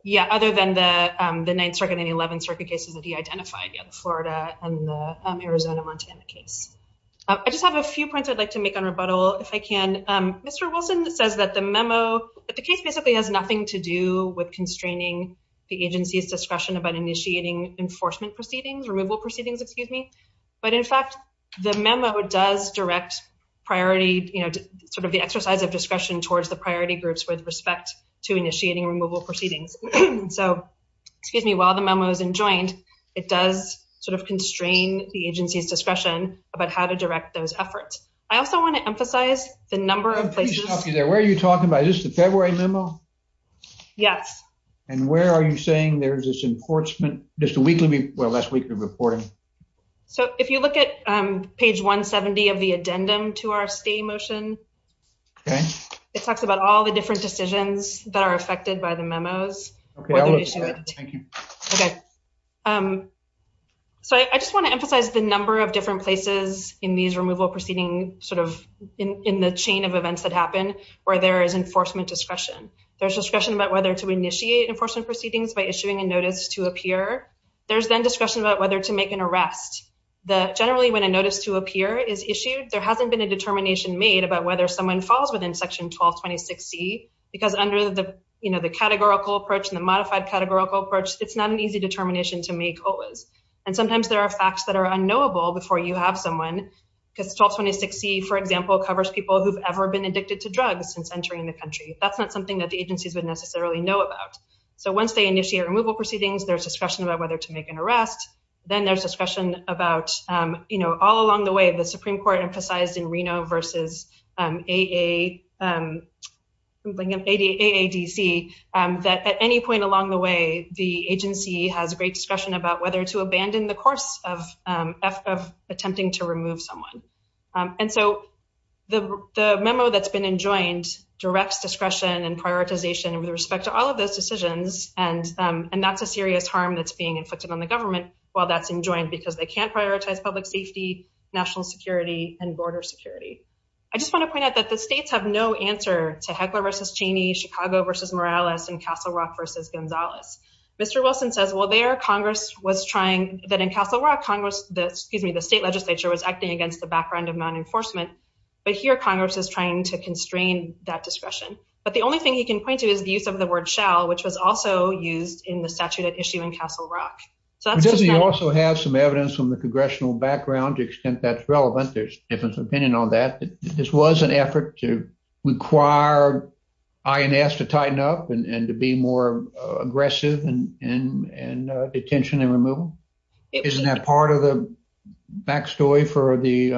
Yeah. Other than the ninth circuit in the 11th Circuit cases that he identified in Florida and Arizona Montana case. I just have a few points I'd like to make on rebuttal if I can. Mr Wilson says that the memo at the case basically has nothing to do with constraining the agency's discretion about initiating enforcement proceedings. Removal proceedings. Excuse me. But in fact, the memo does direct priority, you know, sort of the exercise of discretion towards the priority groups with respect to initiating removal proceedings. So excuse me. While the memo is enjoined, it does sort of constrain the agency's discretion about how to direct those efforts. I also want to emphasize the number of places there. Where are you talking about? Is this the February memo? Yes. And where are you saying there's this enforcement just a weekly? Well, that's weekly reporting. So if you look at page 1 70 of the addendum to our stay motion, okay, it talks about all the different decisions that are affected by the memos. Okay. Um, so I just want to emphasize the number of different places in these removal proceeding sort of in the chain of events that happen where there is enforcement discretion. There's discretion about whether to initiate enforcement proceedings by issuing a notice to appear. There's then discretion about whether to make an arrest. The generally when a notice to appear is issued, there hasn't been a determination made about whether someone falls within section 12 26 C because under the, you know, the categorical approach and the modified categorical approach, it's not an easy determination to make. Always. And sometimes there are facts that are unknowable before you have someone because 12 26 C, for example, covers people who've ever been addicted to drugs since entering the country. That's not something that the agencies would necessarily know about. So once they initiate removal proceedings, there's discussion about whether to make an arrest. Then there's discussion about, um, you know, all along the way, the Supreme Court emphasized in Reno versus A. A. Um, I'm thinking of 80 A. A. D. C. Um, that at any point along the way, the agency has a great discussion about whether to abandon the course of attempting to remove someone. And so the memo that's been enjoined directs discretion and prioritization with respect to all of those decisions, and that's a serious harm that's being inflicted on the government while that's enjoined because they can't prioritize public safety, national security and border security. I just want to point out that the states have no answer to heckler versus Cheney Chicago versus Morales and Castle Rock versus Gonzalez. Mr Wilson says, Well, there Congress was trying that in Castle Rock Congress, excuse me, the state legislature was acting against the background of nonenforcement. But here Congress is trying to constrain that discretion. But the only thing he can point to is the use of the word shall, which was also used in the statute at issue in Castle Rock. So that's just he also has some evidence from the congressional background. Extent that's relevant. There's different opinion on that. This was an effort to require INS to tighten up and to be more aggressive and and and attention and removal. Isn't that part of the backstory for the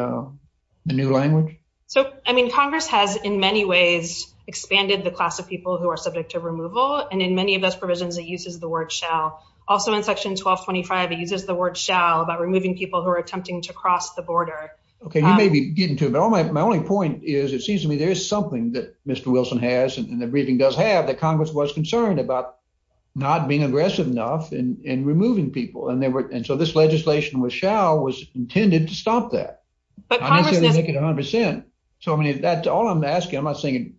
new language? So I mean, Congress has in many ways expanded the class of people who are subject to removal. And in many of those provisions, it uses the word shall also in Section 12 25. It uses the word shall about removing people who are attempting to cross the border. Okay, you may be getting to my only point is it seems to me there is something that Mr Wilson has, and the briefing does have that Congress was concerned about not being aggressive enough and removing people. And they were. And so this legislation was shall was intended to stop that. But I make it 100%. So I mean, that's all I'm asking. I'm not saying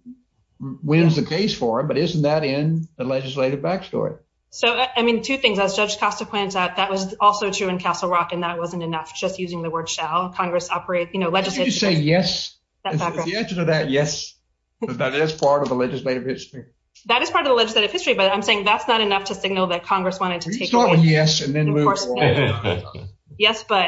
wins the case for it. But isn't that in the legislative backstory? So I mean, two things as Judge Costa points out, that was also true in Castle Rock, and that wasn't enough. Just using the word shall Congress operate? You know, let's just say yes. Yes, that is part of the legislative history. That is part of the legislative history. But I'm saying that's not enough to signal that Congress wanted to start with. Yes. And then yes, but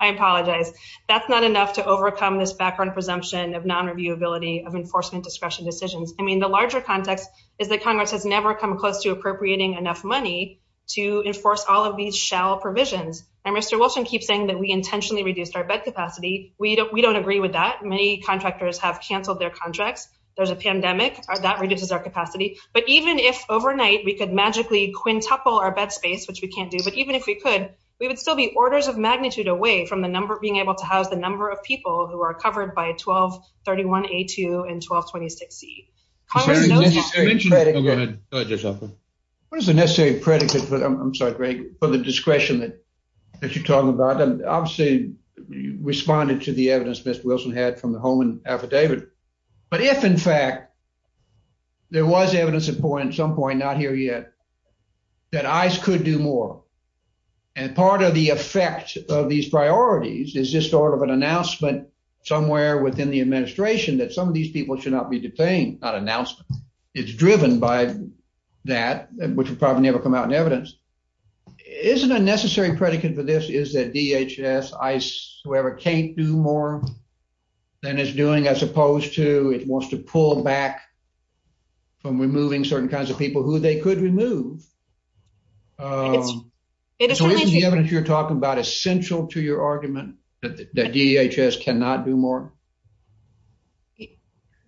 I apologize. That's not enough to overcome this background presumption of non reviewability of enforcement discretion decisions. I mean, the larger context is that Congress has never come close to appropriating enough money to enforce all of these shall provisions. And Mr Wilson keeps saying that we intentionally reduced our bed capacity. We don't. We don't agree with that. Many contractors have canceled their contracts. There's a pandemic that reduces our capacity. But even if overnight we could magically quintuple our bed space, which we can't do, but even if we could, we would still be orders of magnitude away from the number of being able to house the number of people who are covered by 12 31 a two and 12 26 C. Congress. What is the necessary predicate? I'm sorry, Greg, for the discretion that you're talking about. Obviously, responded to the evidence Mr Wilson had from the home and affidavit. But if, in fact, there was evidence of point some point not here yet that eyes could do more. And part of the effect of these priorities is this sort of an announcement somewhere within the administration that some of these people should not be detained. Not announcement. It's driven by that, which would probably never come out in evidence. Isn't a necessary predicate for this? Is that DHS ice? Whoever can't do more than it's doing as opposed to it wants to pull back from removing certain kinds of people who they could remove. Um, it is the evidence you're talking about essential to your argument that DHS cannot do more.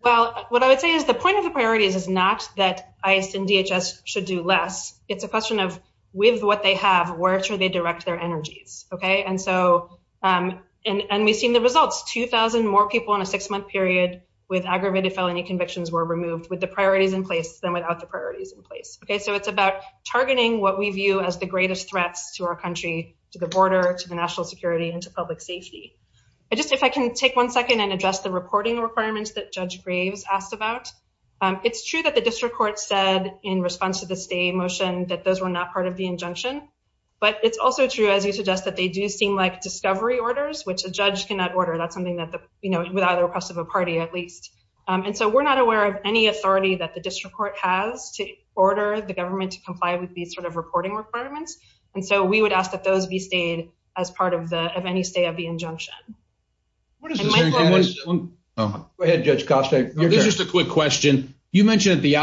Well, what I would say is the point of the priorities is not that ice and DHS should do less. It's a question of with what they have. Where should they direct their energies? Okay, and so on. And we've seen the results. 2000 more people in a six month period with aggravated felony convictions were removed with the priorities in place than without the priorities in place. Okay, so it's about targeting what we view as the greatest threats to our country, to the border, to the national security into public safety. I just if I can take one second and address the reporting requirements that Judge Graves asked about. It's true that the district court said in response to the a motion that those were not part of the injunction. But it's also true, as you suggest, that they do seem like discovery orders, which the judge cannot order. That's something that, you know, without the request of a party, at least. And so we're not aware of any authority that the district court has to order the government to comply with these sort of reporting requirements. And so we would ask that those be stayed as part of the of any stay of the injunction. What is it? Go ahead, Judge Costa. There's just a quick question. You mentioned at the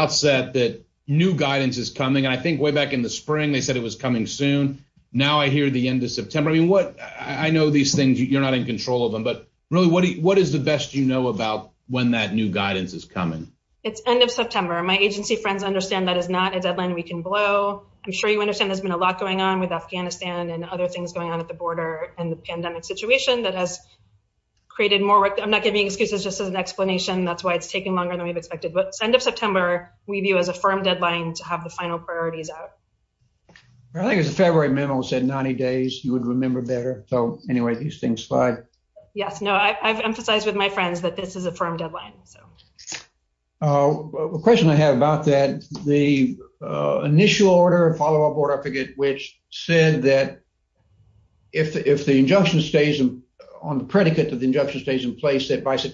I think way back in the spring, they said it was coming soon. Now I hear the end of September. What? I know these things. You're not in control of them. But really, what? What is the best you know about when that new guidance is coming? It's end of September. My agency friends understand that is not a deadline we can blow. I'm sure you understand there's been a lot going on with Afghanistan and other things going on at the border and the pandemic situation that has created more work. I'm not giving excuses just as an explanation. That's why it's taking longer than we've expected. But end of priorities out, I think it's a February memo said 90 days you would remember better. So anyway, these things slide. Yes. No, I've emphasized with my friends that this is a firm deadline. So, uh, question I have about that the initial order of follow up order, I forget which said that if if the injunction stays on the predicate of the injunction stays in place that by what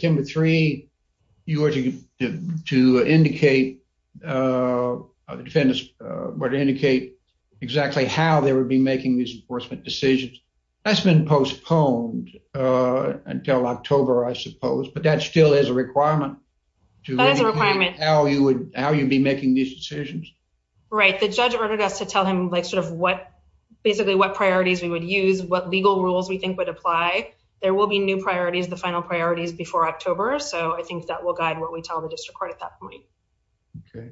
indicate exactly how they would be making these enforcement decisions that's been postponed until October, I suppose. But that still is a requirement to how you would how you be making these decisions. Right. The judge ordered us to tell him like sort of what basically what priorities we would use, what legal rules we think would apply. There will be new priorities, the final priorities before October. So I think that will guide what we tell the district court at that point. Okay,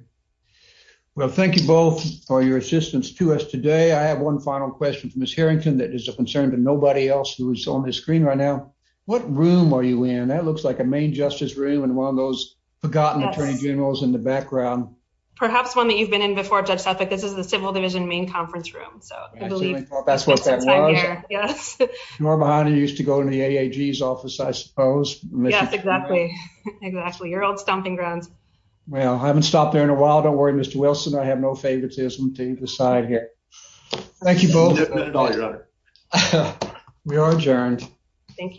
well, thank you both for your assistance to us today. I have one final question for Miss Harrington. That is a concern to nobody else who is on the screen right now. What room are you in? That looks like a main justice room and one of those forgotten attorney generals in the background. Perhaps one that you've been in before. Judge Suffolk. This is the Civil Division main conference room. So I believe that's what that was. Yes, you are behind. You used to go to the A. G. S. Office, I suppose. Yes, exactly. Actually, your old stomping grounds. Well, I haven't stopped there in a while. Don't worry, Mr Wilson. I have no favoritism to decide here. Thank you, both. We are adjourned. Thank you.